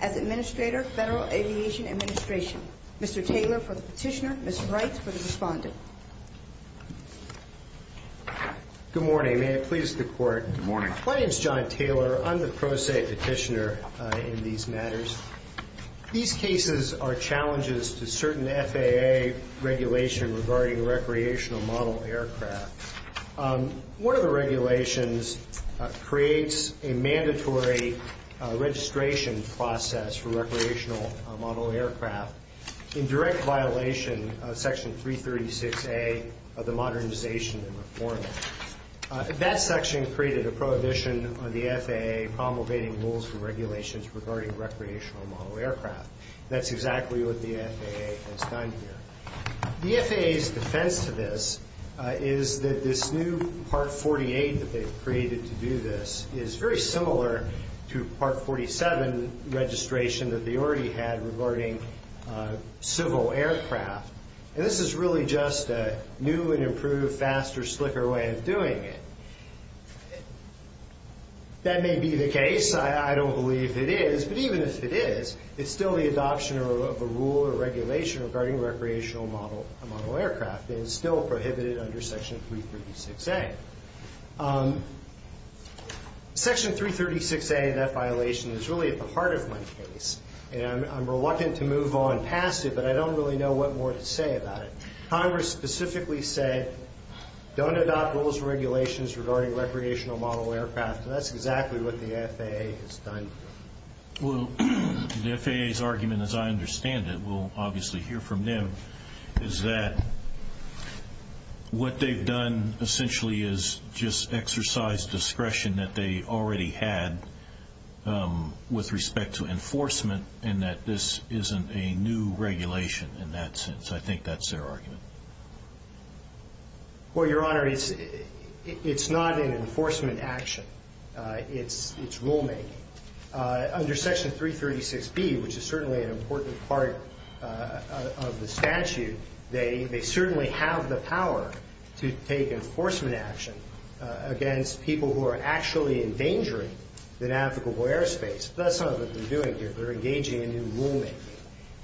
as Administrator, Federal Aviation Administration. Mr. Taylor for the Petitioner, Mr. Wright for the Respondent. Good morning, may it please the Court. Good morning. My name is John Taylor. I'm the Pro Se Petitioner in these matters. These cases are challenges to certain FAA regulation regarding recreational model aircraft. One of the regulations creates a mandatory registration process for recreational model aircraft in direct violation of Section 336A of the Modernization and Reform Act. That section created a prohibition on the FAA promulgating rules and regulations regarding recreational model aircraft. That's exactly what the FAA has done here. The FAA's defense to this is that this new Part 48 that they've created to do this is very similar to Part 47 registration that they already had regarding civil aircraft. And this is really just a new and improved faster, slicker way of doing it. That may be the case. I don't believe it is. But even if it is, it's still the adoption of a rule or regulation regarding recreational model aircraft. And it's still prohibited under Section 336A. Section 336A, that violation is really at the heart of my case. And I'm reluctant to move on past it, but I don't really know what more to say about it. Congress specifically said, don't adopt rules and regulations regarding recreational model aircraft. That's exactly what the FAA has done. Well, the FAA's argument, as I understand it, we'll obviously hear from them, is that what they've done essentially is just exercise discretion that they already had with respect to enforcement and that this isn't a new regulation in that sense. I think that's their argument. Well, Your Honor, it's not an amendment. It's rulemaking. Under Section 336B, which is certainly an important part of the statute, they certainly have the power to take enforcement action against people who are actually endangering the navigable airspace. That's not what they're doing here. They're engaging in new rulemaking.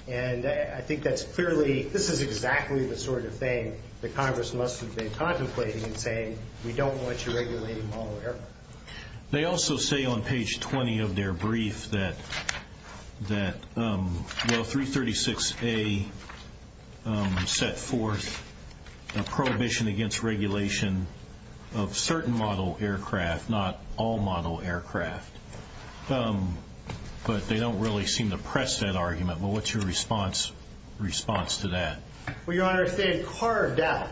And I think that's clearly, this is exactly the sort of thing that Congress must have been contemplating in saying, we don't want you regulating model aircraft. They also say on page 20 of their brief that, well, 336A set forth a prohibition against regulation of certain model aircraft, not all model aircraft. But they don't really seem to press that argument. Well, what's your response to that? Well, Your Honor, if they had carved out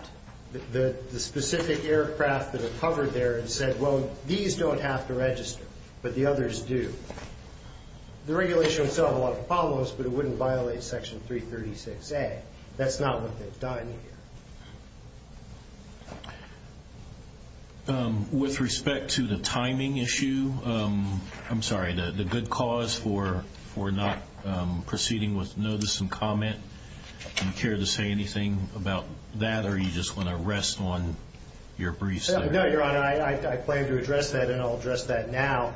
the specific aircraft that are covered there and said, well, these don't have to register, but the others do, the regulation would still have a lot of problems, but it wouldn't violate Section 336A. That's not what they've done here. With respect to the timing issue, I'm sorry, the good cause for not proceeding with notice and comment, do you care to say anything about that, or do you just want to rest on your briefs? No, Your Honor, I plan to address that, and I'll address that now.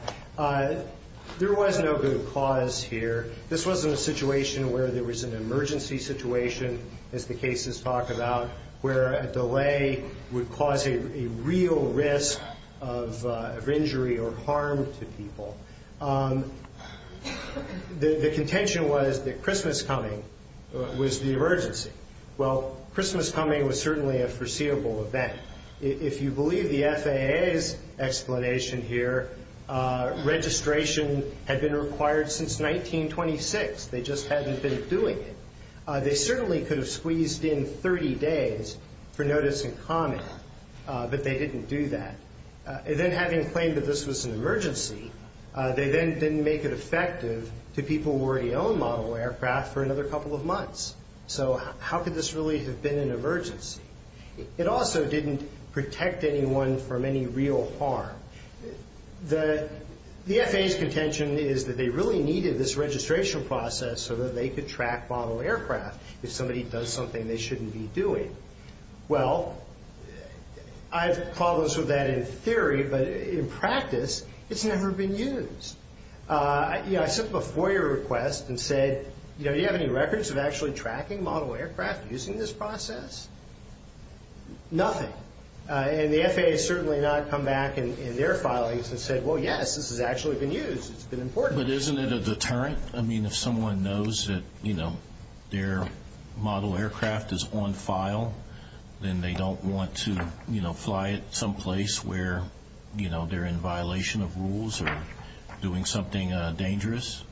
There was no good cause here. This wasn't a situation where there was an emergency situation, as the cases talk about, where a delay would cause a real risk of injury or harm to people. The contention was that Christmas coming was the emergency. Well, Christmas coming was certainly a foreseeable event. If you believe the FAA's explanation here, registration had been required since 1926. They just hadn't been doing it. They certainly could have squeezed in 30 days for notice and comment, but they didn't do that. And then having claimed that this was an emergency, they then didn't make it effective to people who already owned model aircraft for another couple of months. So how could this really have been an emergency? It also didn't protect anyone from any real harm. The FAA's contention is that they really needed this registration process so that they could track model aircraft if somebody does something they shouldn't be doing. Well, I have problems with that in theory, but in practice, it's never been used. I sent them a FOIA request and said, do you have any records of actually tracking model aircraft using this process? Nothing. And the FAA has certainly not come back in their filings and said, well, yes, this has actually been used. It's been important. But isn't it a deterrent? I mean, if someone knows that their model aircraft is on file, then they don't want to fly it someplace where they're in violation of rules or doing something dangerous?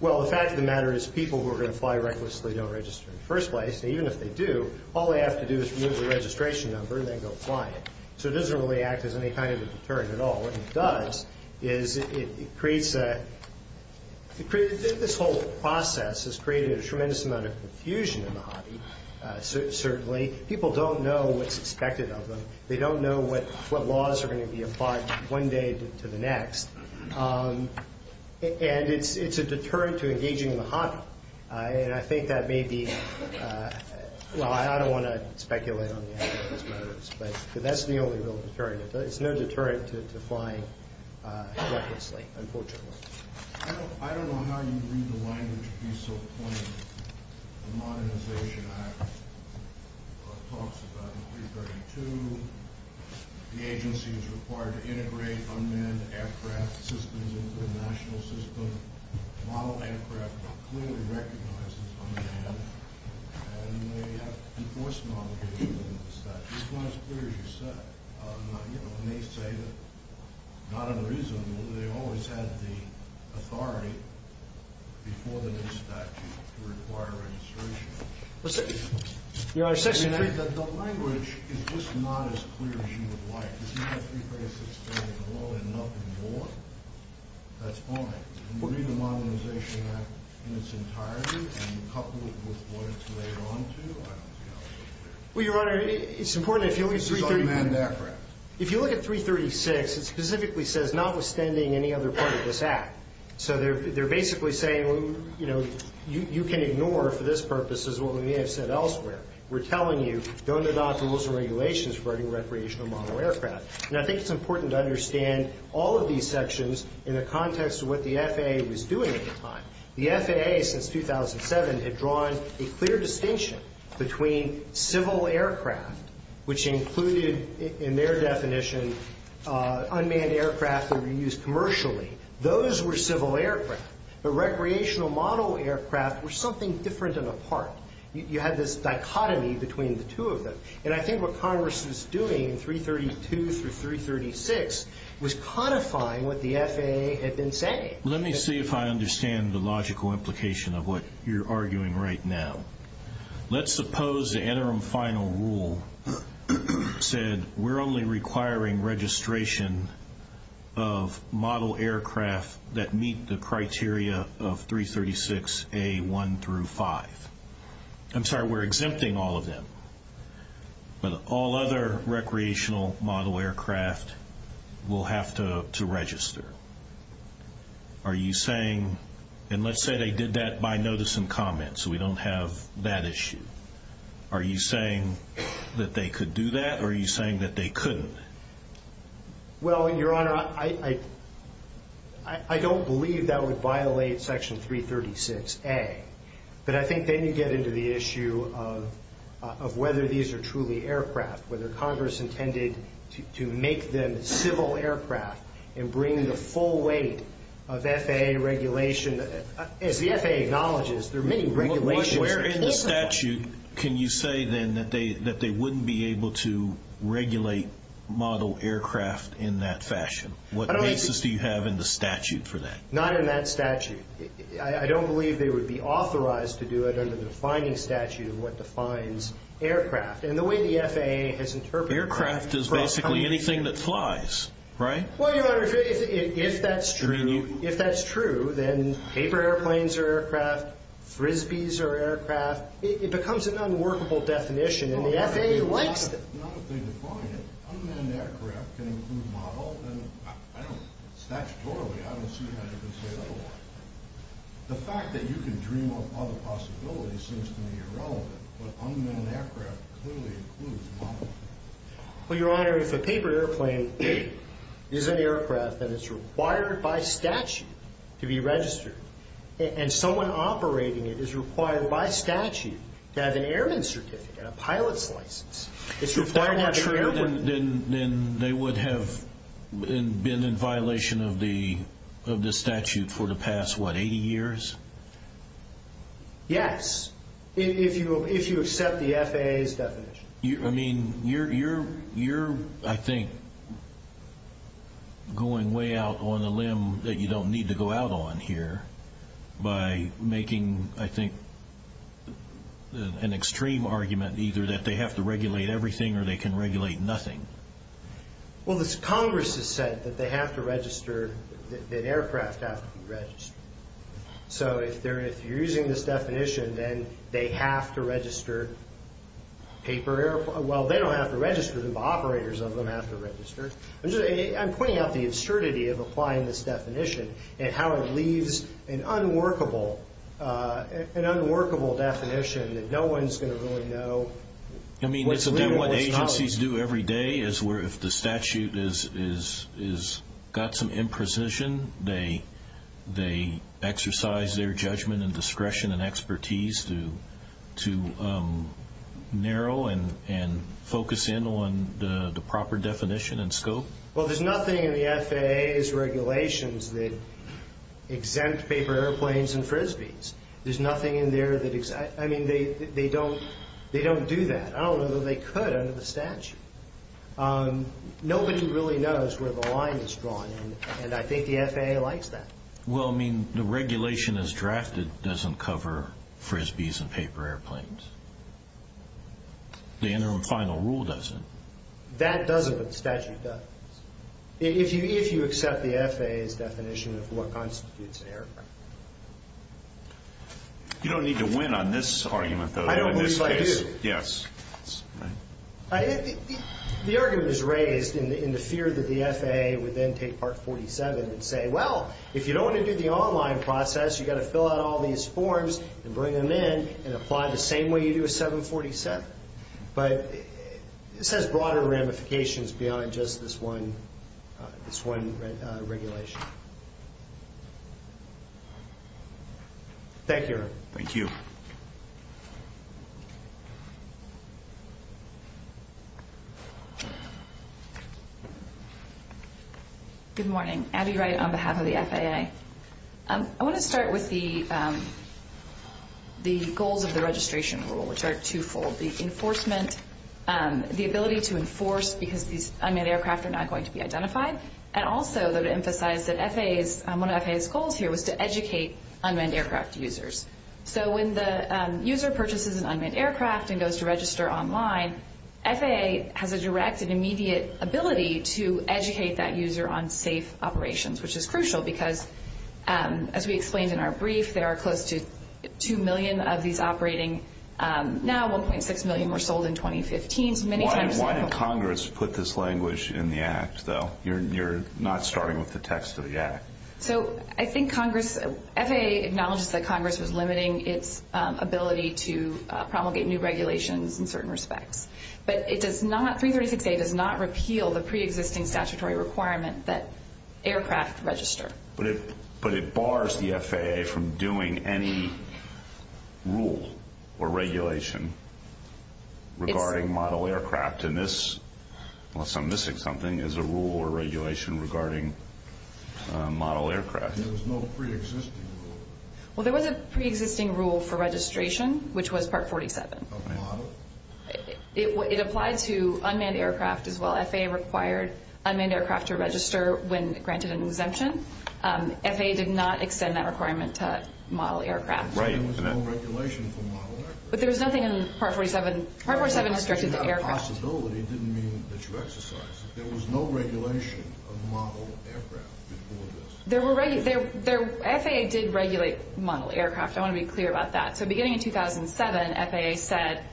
Well, the fact of the matter is people who are going to fly recklessly don't register in the first place. Even if they do, all they have to do is remove the registration number and then go fly it. So it doesn't really act as any kind of a deterrent at all. What it does is it creates a – this whole process has created a tremendous amount of confusion in the hobby, certainly. People don't know what's expected of them. They don't know what laws are going to be applied one day to the next. And it's a deterrent to engaging in the hobby. And I think that may be – well, I don't want to speculate on these matters, but that's the only real deterrent. It's no deterrent to flying recklessly, unfortunately. I don't know how you read the language piece so plainly. The Modernization Act talks about in 332 the agency is required to integrate unmanned aircraft systems into the national system. Model aircraft are clearly recognized as unmanned. And they have enforcement obligations under the statute. It's not as clear as you said. And they say that not unreasonable. They always had the authority before the new statute to require registration. I think that the language is just not as clear as you would like. If you have three phrases saying hello and nothing more, that's fine. And you read the Modernization Act in its entirety and couple it with what it's laid onto, I don't think that's so clear. Well, Your Honor, it's important that if you look at – This is unmanned aircraft. If you look at 336, it specifically says notwithstanding any other part of this act. So they're basically saying, you know, you can ignore for this purpose is what we may have said elsewhere. We're telling you, don't adopt the rules and regulations regarding recreational model aircraft. And I think it's important to understand all of these sections in the context of what the FAA was doing at the time. The FAA since 2007 had drawn a clear distinction between civil aircraft, which included in their definition unmanned aircraft that were used commercially. Those were civil aircraft. The recreational model aircraft were something different and apart. You had this dichotomy between the two of them. And I think what Congress is doing in 332 through 336 was codifying what the FAA had been saying. Let me see if I understand the logical implication of what you're arguing right now. Let's suppose the interim final rule said we're only requiring registration of model aircraft that meet the criteria of 336A1 through 5. I'm sorry, we're exempting all of them. But all other recreational model aircraft will have to register. Are you saying, and let's say they did that by notice and comment, so we don't have that issue. Are you saying that they could do that or are you saying that they couldn't? Well, Your Honor, I don't believe that would violate Section 336A. But I think then you get into the issue of whether these are truly aircraft, whether Congress intended to make them civil aircraft and bring the full weight of FAA regulation. As the FAA acknowledges, there are many regulations. Where in the statute can you say then that they wouldn't be able to regulate model aircraft in that fashion? What basis do you have in the statute for that? Not in that statute. I don't believe they would be authorized to do it under the defining statute of what defines aircraft. And the way the FAA has interpreted that. Aircraft is basically anything that flies, right? Well, Your Honor, if that's true, then paper airplanes are aircraft, Frisbees are aircraft. It becomes an unworkable definition and the FAA likes it. Well, not if they define it. Unmanned aircraft can include model. Statutorily, I don't see how you can say otherwise. The fact that you can dream up other possibilities seems to me irrelevant. But unmanned aircraft clearly includes model. Well, Your Honor, if a paper airplane is an aircraft, then it's required by statute to be registered. And someone operating it is required by statute to have an airman's certificate, a pilot's license. If that were true, then they would have been in violation of the statute for the past, what, 80 years? Yes, if you accept the FAA's definition. I mean, you're, I think, going way out on a limb that you don't need to go out on here by making, I think, an extreme argument either that they have to regulate everything or they can regulate nothing. Well, this Congress has said that they have to register, that aircraft have to be registered. So if you're using this definition, then they have to register paper airplanes. Well, they don't have to register, the operators of them have to register. I'm pointing out the absurdity of applying this definition and how it leaves an unworkable definition that no one's going to really know what's real or what's not. I mean, isn't that what agencies do every day is where if the statute has got some imprecision, they exercise their judgment and discretion and expertise to narrow and focus in on the proper definition and scope? Well, there's nothing in the FAA's regulations that exempt paper airplanes and Frisbees. There's nothing in there that, I mean, they don't do that. I don't know that they could under the statute. Nobody really knows where the line is drawn, and I think the FAA likes that. Well, I mean, the regulation as drafted doesn't cover Frisbees and paper airplanes. The interim final rule doesn't. That doesn't, but the statute does. If you accept the FAA's definition of what constitutes an airplane. You don't need to win on this argument, though. I don't believe I do. Yes. The argument is raised in the fear that the FAA would then take Part 47 and say, well, if you don't want to do the online process, you've got to fill out all these forms and bring them in and apply the same way you do a 747. But this has broader ramifications beyond just this one regulation. Thank you. Thank you. Good morning. Abby Wright on behalf of the FAA. I want to start with the goals of the registration rule, which are twofold. The enforcement, the ability to enforce because these unmanned aircraft are not going to be identified, and also to emphasize that one of FAA's goals here was to educate unmanned aircraft users. So when the user purchases an unmanned aircraft and goes to register online, FAA has a direct and immediate ability to educate that user on safe operations, which is crucial because, as we explained in our brief, there are close to 2 million of these operating now. 1.6 million were sold in 2015. Why did Congress put this language in the Act, though? You're not starting with the text of the Act. So I think FAA acknowledges that Congress was limiting its ability to promulgate new regulations in certain respects, but 336A does not repeal the preexisting statutory requirement that aircraft register. But it bars the FAA from doing any rule or regulation regarding model aircraft, unless I'm missing something, is a rule or regulation regarding model aircraft. There was no preexisting rule. Well, there was a preexisting rule for registration, which was Part 47. Of model? It applied to unmanned aircraft as well. FAA required unmanned aircraft to register when granted an exemption. FAA did not extend that requirement to model aircraft. Right. There was no regulation for model aircraft. But there was nothing in Part 47. Part 47 restricted to aircraft. The possibility didn't mean that you exercised it. There was no regulation of model aircraft before this. FAA did regulate model aircraft. I want to be clear about that. So beginning in 2007, FAA said,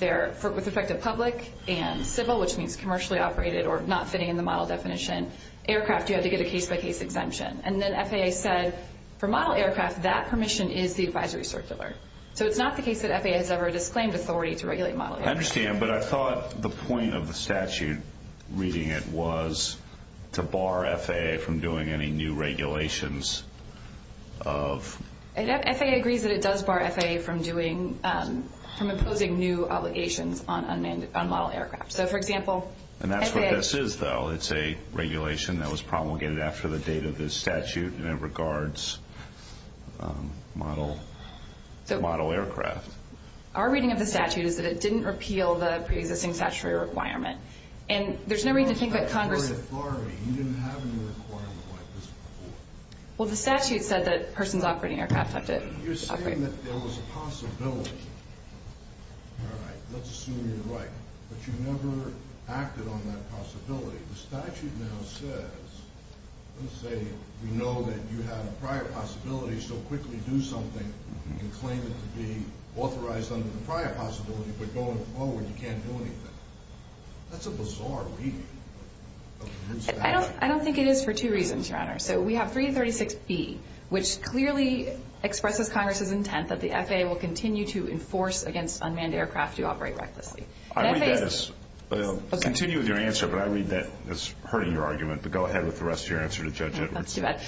with respect to public and civil, which means commercially operated or not fitting in the model definition aircraft, you had to get a case-by-case exemption. And then FAA said, for model aircraft, that permission is the advisory circular. So it's not the case that FAA has ever disclaimed authority to regulate model aircraft. I understand, but I thought the point of the statute, reading it, was to bar FAA from doing any new regulations of – FAA agrees that it does bar FAA from imposing new obligations on model aircraft. So, for example, FAA – And that's what this is, though. It's a regulation that was promulgated after the date of this statute, and it regards model aircraft. Our reading of the statute is that it didn't repeal the preexisting statutory requirement. And there's no reason to think that Congress – You didn't have any requirement like this before. Well, the statute said that persons operating aircraft have to – You're saying that there was a possibility. All right, let's assume you're right. But you never acted on that possibility. The statute now says, let's say, you know that you have a prior possibility, so quickly do something. You can claim it to be authorized under the prior possibility, but going forward you can't do anything. That's a bizarre reading of the statute. I don't think it is for two reasons, Your Honor. So we have 336B, which clearly expresses Congress's intent that the FAA will continue to enforce against unmanned aircraft to operate recklessly. I'll continue with your answer, but I read that as hurting your argument. But go ahead with the rest of your answer to Judge Edwards. That's too bad.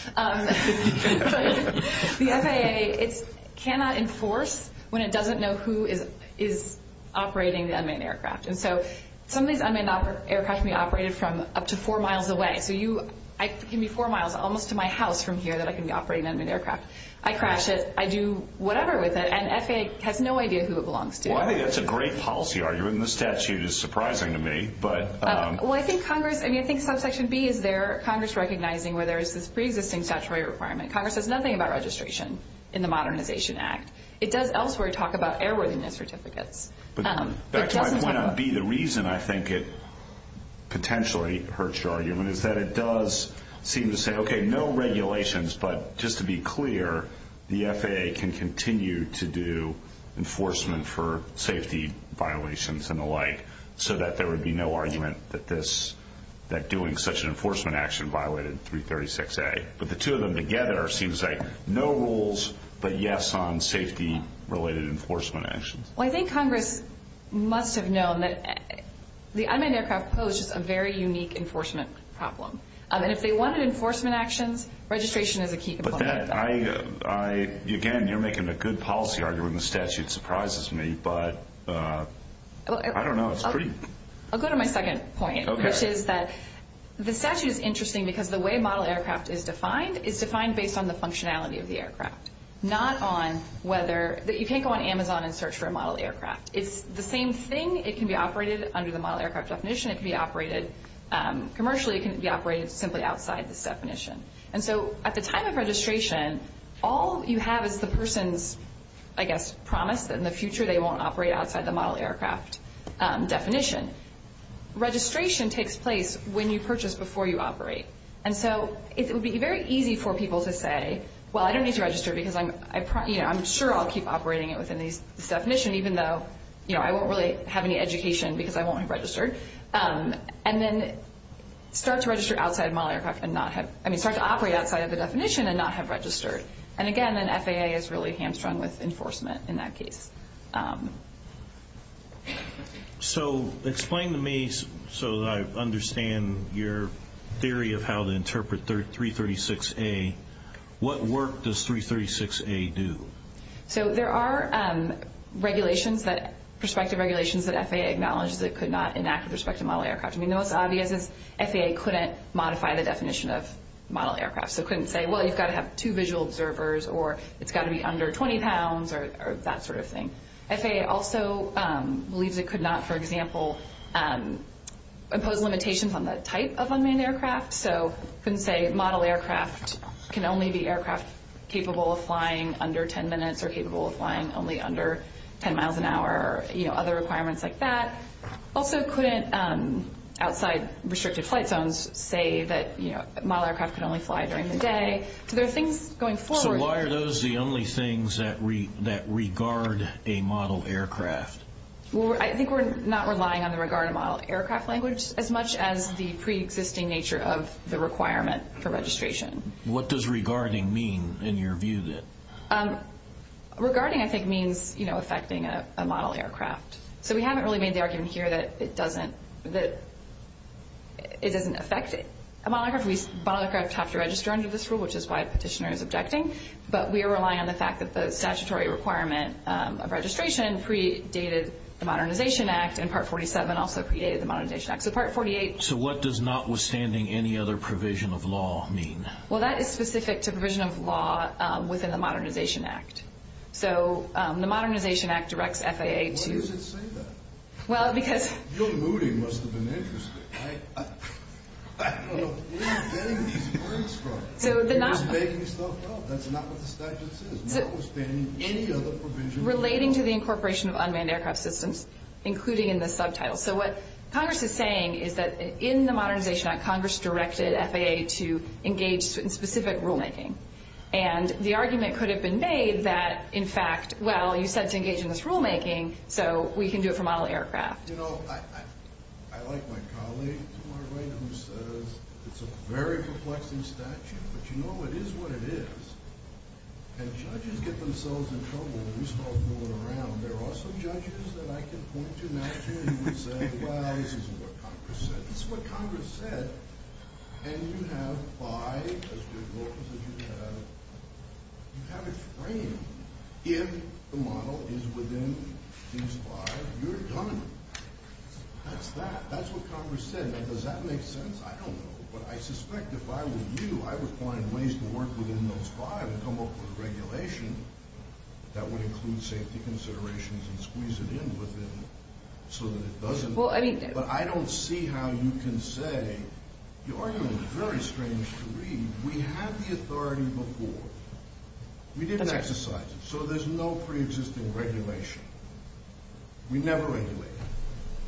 The FAA cannot enforce when it doesn't know who is operating the unmanned aircraft. And so some of these unmanned aircraft can be operated from up to four miles away. So I can be four miles almost to my house from here that I can be operating an unmanned aircraft. I crash it, I do whatever with it, and FAA has no idea who it belongs to. Well, I think that's a great policy argument, and the statute is surprising to me. Well, I think Congress, I mean, I think subsection B is there, Congress recognizing where there is this preexisting statutory requirement. Congress says nothing about registration in the Modernization Act. It does elsewhere talk about airworthiness certificates. The reason I think it potentially hurts your argument is that it does seem to say, okay, no regulations, but just to be clear, the FAA can continue to do enforcement for safety violations and the like so that there would be no argument that doing such an enforcement action violated 336A. But the two of them together seems like no rules but yes on safety-related enforcement actions. Well, I think Congress must have known that the unmanned aircraft posed a very unique enforcement problem. And if they wanted enforcement actions, registration is a key component of that. Again, you're making a good policy argument. The statute surprises me, but I don't know. I'll go to my second point, which is that the statute is interesting because the way model aircraft is defined is defined based on the functionality of the aircraft, not on whether you can't go on Amazon and search for a model aircraft. It's the same thing. It can be operated under the model aircraft definition. It can be operated commercially. It can be operated simply outside this definition. And so at the time of registration, all you have is the person's, I guess, promise that in the future they won't operate outside the model aircraft definition. Registration takes place when you purchase before you operate. And so it would be very easy for people to say, well, I don't need to register because I'm sure I'll keep operating it within this definition even though I won't really have any education because I won't have registered. And then start to operate outside of the definition and not have registered. And again, an FAA is really hamstrung with enforcement in that case. So explain to me, so that I understand your theory of how to interpret 336A, what work does 336A do? So there are regulations, perspective regulations that FAA acknowledges that could not enact with respect to model aircraft. I mean, the most obvious is FAA couldn't modify the definition of model aircraft. So it couldn't say, well, you've got to have two visual observers or it's got to be under 20 pounds or that sort of thing. FAA also believes it could not, for example, impose limitations on the type of unmanned aircraft. So couldn't say model aircraft can only be aircraft capable of flying under 10 minutes or capable of flying only under 10 miles an hour or other requirements like that. Also couldn't outside restricted flight zones say that model aircraft can only fly during the day. So there are things going forward. So why are those the only things that regard a model aircraft? Well, I think we're not relying on the regard of model aircraft language as much as the preexisting nature of the requirement for registration. What does regarding mean in your view then? Regarding, I think, means affecting a model aircraft. So we haven't really made the argument here that it doesn't affect a model aircraft. Model aircraft have to register under this rule, which is why a petitioner is objecting. But we are relying on the fact that the statutory requirement of registration predated the Modernization Act and Part 47 also predated the Modernization Act. So Part 48. So what does notwithstanding any other provision of law mean? Well, that is specific to provision of law within the Modernization Act. So the Modernization Act directs FAA to. Why does it say that? Well, because. Gil Moody must have been interested. I don't know. Where are you getting these words from? You're just making yourself up. That's not what the statute says. Notwithstanding any other provision of law. Relating to the incorporation of unmanned aircraft systems, including in the subtitle. So what Congress is saying is that in the Modernization Act, Congress directed FAA to engage in specific rulemaking. And the argument could have been made that, in fact, well, you said to engage in this rulemaking, so we can do it for model aircraft. You know, I like my colleague to my right who says it's a very perplexing statute. But you know, it is what it is. And judges get themselves in trouble when we start fooling around. There are some judges that I can point to now, too, who would say, well, this is what Congress said. This is what Congress said. And you have five as good laws as you have. You have a frame. If the model is within these five, you're done. That's that. That's what Congress said. Now, does that make sense? I don't know. But I suspect if I were you, I would find ways to work within those five and come up with regulation that would include safety considerations and squeeze it in within so that it doesn't. But I don't see how you can say the argument is very strange to read. We had the authority before. We didn't exercise it. So there's no preexisting regulation. We never regulated.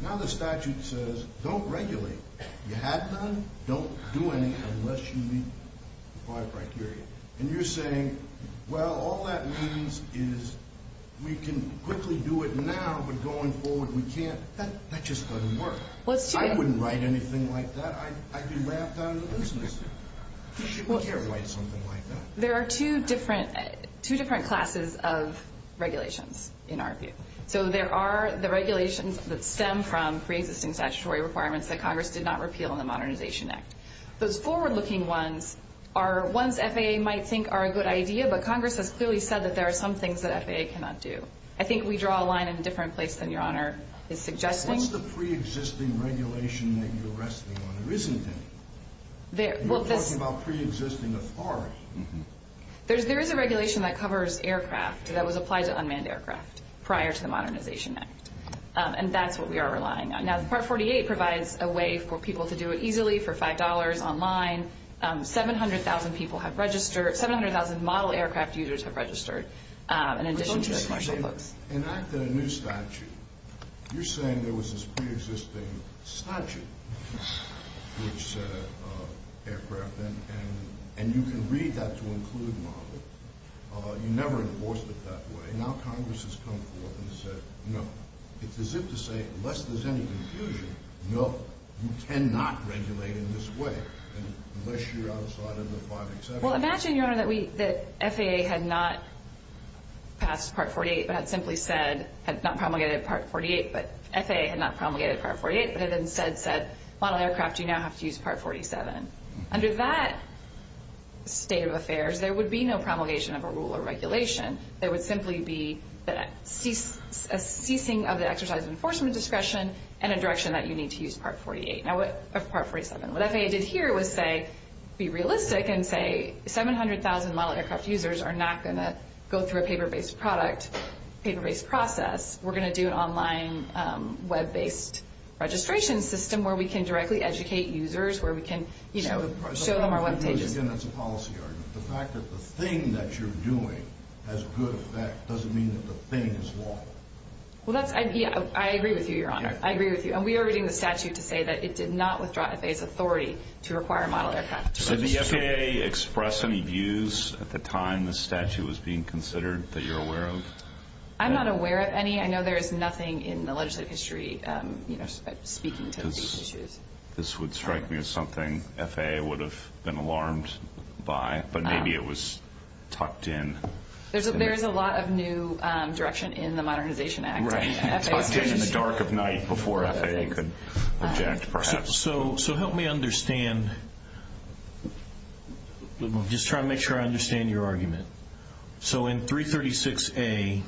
Now the statute says don't regulate. You had none. Don't do anything unless you meet the five criteria. And you're saying, well, all that means is we can quickly do it now, but going forward we can't. That just doesn't work. I wouldn't write anything like that. I'd be laughed out of business. We can't write something like that. There are two different classes of regulations in our view. So there are the regulations that stem from preexisting statutory requirements that Congress did not repeal in the Modernization Act. Those forward-looking ones are ones FAA might think are a good idea, but Congress has clearly said that there are some things that FAA cannot do. I think we draw a line in a different place than Your Honor is suggesting. What's the preexisting regulation that you're resting on? There isn't any. You're talking about preexisting authority. There is a regulation that covers aircraft that was applied to unmanned aircraft prior to the Modernization Act, and that's what we are relying on. Now, Part 48 provides a way for people to do it easily for $5 online. 700,000 people have registered. 700,000 model aircraft users have registered in addition to their commercial books. In acting a new statute, you're saying there was this preexisting statute for each set of aircraft, and you can read that to include models. You never enforced it that way. Now Congress has come forth and said, no. It's as if to say, unless there's any confusion, no, you cannot regulate in this way, unless you're outside of the five exceptions. Well, imagine, Your Honor, that FAA had not promulgated Part 48, but had instead said, model aircraft, you now have to use Part 47. Under that state of affairs, there would be no promulgation of a rule or regulation. There would simply be a ceasing of the exercise of enforcement discretion and a direction that you need to use Part 47. What FAA did here was say, be realistic and say, 700,000 model aircraft users are not going to go through a paper-based product, paper-based process. We're going to do an online web-based registration system where we can directly educate users, where we can show them our web pages. Again, that's a policy argument. The fact that the thing that you're doing has good effect doesn't mean that the thing is wrong. Well, I agree with you, Your Honor. I agree with you. And we are reading the statute to say that it did not withdraw FAA's authority to require model aircraft. Did the FAA express any views at the time this statute was being considered that you're aware of? I'm not aware of any. I know there is nothing in the legislative history speaking to these issues. This would strike me as something FAA would have been alarmed by, but maybe it was tucked in. There is a lot of new direction in the Modernization Act. It's tucked in in the dark of night before FAA could object, perhaps. So help me understand. I'm just trying to make sure I understand your argument. So in 336A,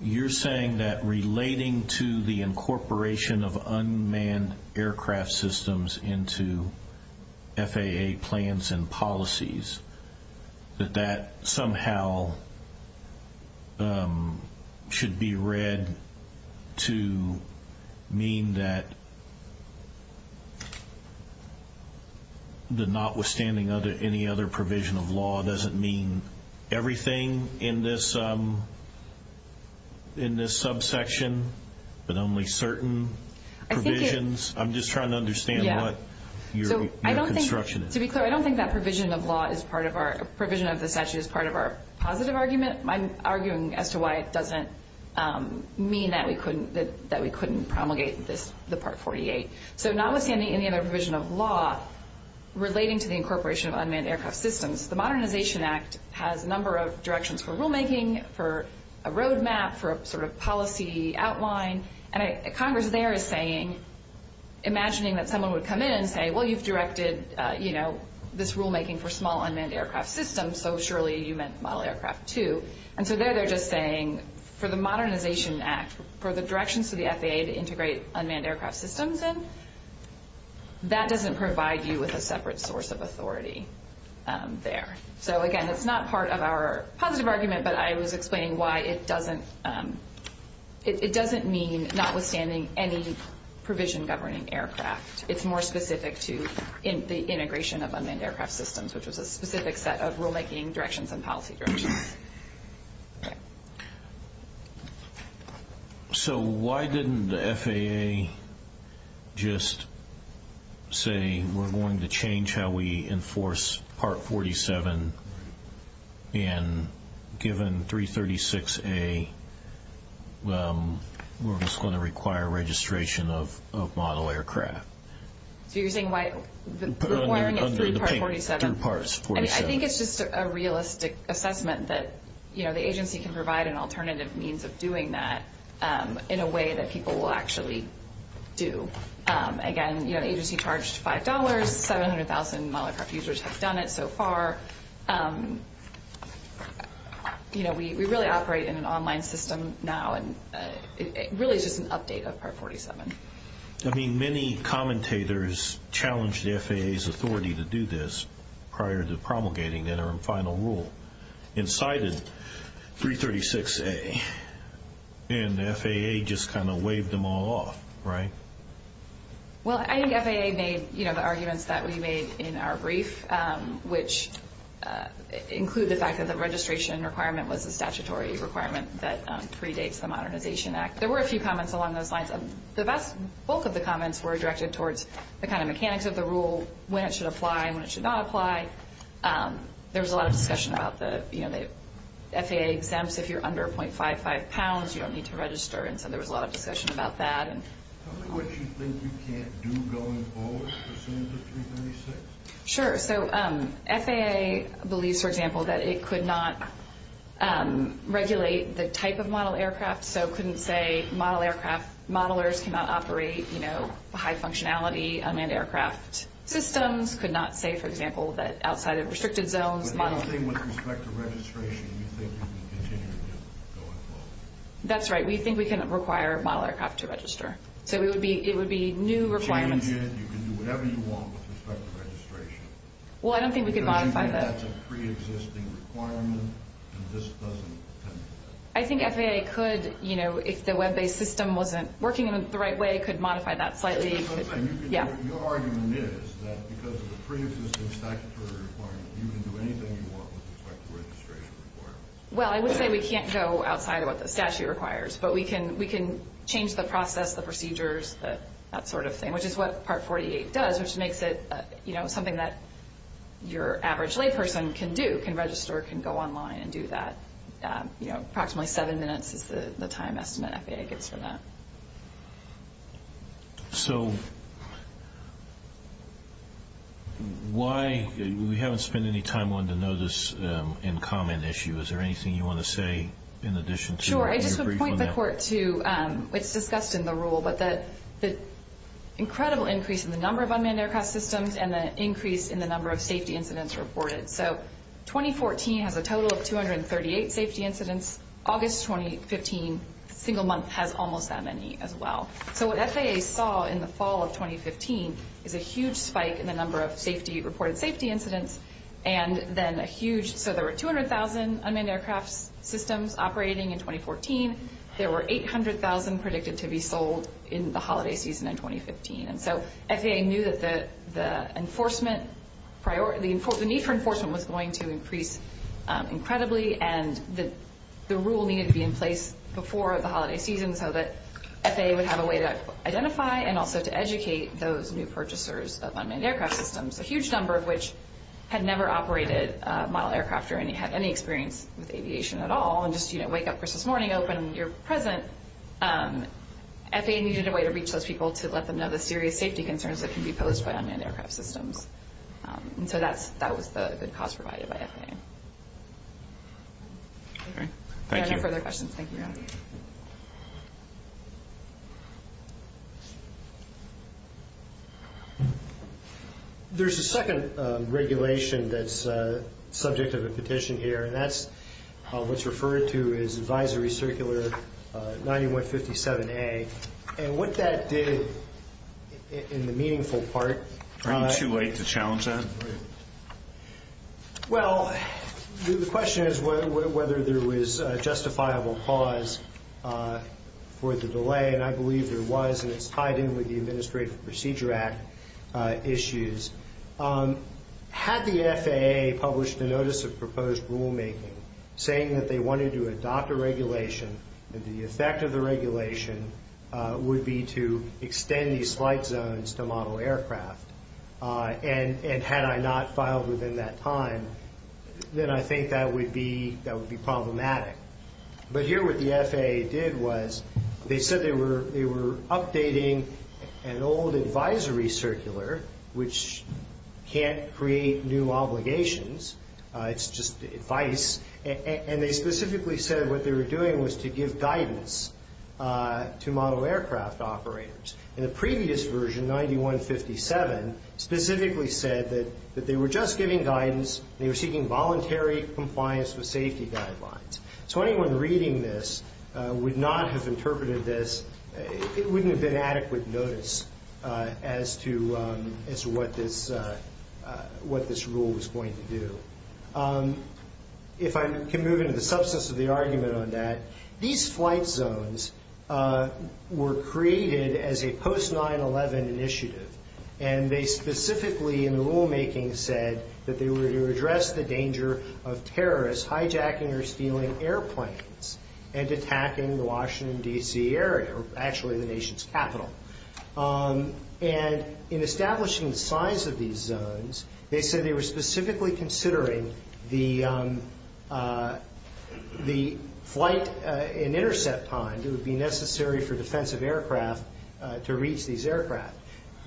you're saying that relating to the incorporation of unmanned aircraft systems into FAA plans and policies, that that somehow should be read to mean that the notwithstanding any other provision of law doesn't mean everything in this subsection, but only certain provisions? I'm just trying to understand what your construction is. To be clear, I don't think that provision of the statute is part of our positive argument. I'm arguing as to why it doesn't mean that we couldn't promulgate the Part 48. So notwithstanding any other provision of law relating to the incorporation of unmanned aircraft systems, the Modernization Act has a number of directions for rulemaking, for a roadmap, for a sort of policy outline. And Congress there is saying, imagining that someone would come in and say, well, you've directed this rulemaking for small unmanned aircraft systems, so surely you meant model aircraft too. And so there they're just saying for the Modernization Act, for the directions to the FAA to integrate unmanned aircraft systems in, that doesn't provide you with a separate source of authority there. So again, it's not part of our positive argument, but I was explaining why it doesn't mean, notwithstanding any provision governing aircraft, it's more specific to the integration of unmanned aircraft systems, which was a specific set of rulemaking directions and policy directions. So why didn't the FAA just say, we're going to change how we enforce Part 47, and given 336A, we're just going to require registration of model aircraft? So you're saying why we're requiring it through Part 47? I think it's just a realistic assessment that the agency can provide an alternative means of doing that in a way that people will actually do. Again, the agency charged $5, 700,000 model aircraft users have done it so far. We really operate in an online system now, and it really is just an update of Part 47. I mean, many commentators challenged the FAA's authority to do this prior to promulgating their final rule and cited 336A, and the FAA just kind of waved them all off, right? Well, I think the FAA made the arguments that we made in our brief, which include the fact that the registration requirement was a statutory requirement that predates the Modernization Act. There were a few comments along those lines. The bulk of the comments were directed towards the kind of mechanics of the rule, when it should apply and when it should not apply. There was a lot of discussion about the FAA exempts. If you're under 0.55 pounds, you don't need to register, and so there was a lot of discussion about that. Tell me what you think we can't do going forward, assuming it's a 336. Sure. So FAA believes, for example, that it could not regulate the type of model aircraft, so couldn't say model aircraft, modelers cannot operate, you know, high functionality unmanned aircraft systems, could not say, for example, that outside of restricted zones, model aircraft. But the other thing with respect to registration, you think you can continue to do it going forward? That's right. We think we can require model aircraft to register. So it would be new requirements. You can change it, you can do whatever you want with respect to registration. Well, I don't think we can modify that. I think FAA could, you know, if the web-based system wasn't working in the right way, could modify that slightly. Your argument is that because of the preexisting statutory requirements, you can do anything you want with respect to registration requirements. Well, I would say we can't go outside of what the statute requires, but we can change the process, the procedures, that sort of thing, which is what Part 48 does, which makes it, you know, something that your average layperson can do, can register, can go online and do that, you know, approximately seven minutes is the time estimate FAA gets for that. So, why, we haven't spent any time wanting to know this in common issue. Is there anything you want to say in addition to what you briefed on that? Sure. I just would point the Court to, it's discussed in the rule, but the incredible increase in the number of unmanned aircraft systems and the increase in the number of safety incidents reported. So, 2014 has a total of 238 safety incidents. August 2015, single month, has almost that many as well. So, what FAA saw in the fall of 2015 is a huge spike in the number of safety, reported safety incidents, and then a huge, so there were 200,000 unmanned aircraft systems operating in 2014. There were 800,000 predicted to be sold in the holiday season in 2015. And so, FAA knew that the enforcement, the need for enforcement was going to increase incredibly and the rule needed to be in place before the holiday season so that FAA would have a way to identify and also to educate those new purchasers of unmanned aircraft systems, a huge number of which had never operated model aircraft or had any experience with aviation at all and just, you know, wake up for Christmas morning, open, you're present. FAA needed a way to reach those people to let them know the serious safety concerns that can be posed by unmanned aircraft systems. And so, that was the good cause provided by FAA. Any further questions? Thank you. There's a second regulation that's subject of a petition here, and that's what's referred to as Advisory Circular 9157A. And what that did in the meaningful part… Are you too late to challenge that? Well, the question is whether there was a justifiable cause for the delay, and I believe there was, and it's tied in with the Administrative Procedure Act issues. Had the FAA published a Notice of Proposed Rulemaking saying that they wanted to adopt a regulation, that the effect of the regulation would be to extend these flight zones to model aircraft, and had I not filed within that time, then I think that would be problematic. But here what the FAA did was they said they were updating an old advisory circular, which can't create new obligations. It's just advice. And they specifically said what they were doing was to give guidance to model aircraft operators. And the previous version, 9157, specifically said that they were just giving guidance. They were seeking voluntary compliance with safety guidelines. So anyone reading this would not have interpreted this… as to what this rule was going to do. If I can move into the substance of the argument on that, these flight zones were created as a post-9-11 initiative, and they specifically in the rulemaking said that they were to address the danger of terrorists hijacking or stealing airplanes and attacking the Washington, D.C. area, or actually the nation's capital. And in establishing the size of these zones, they said they were specifically considering the flight and intercept time that would be necessary for defensive aircraft to reach these aircraft.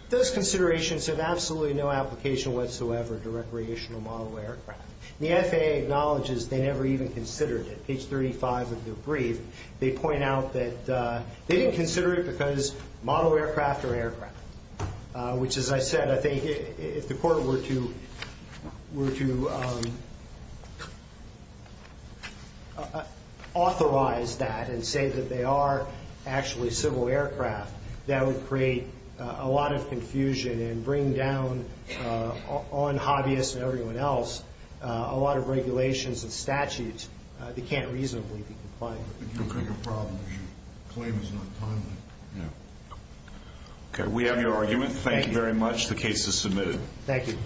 Those considerations have absolutely no application whatsoever to recreational model aircraft. The FAA acknowledges they never even considered it. In page 35 of their brief, they point out that they didn't consider it because model aircraft are aircraft. Which, as I said, I think if the court were to authorize that and say that they are actually civil aircraft, that would create a lot of confusion and bring down on hobbyists and everyone else a lot of regulations and statutes that can't reasonably be complied with. Okay, we have your argument. Thank you very much. The case is submitted. Thank you.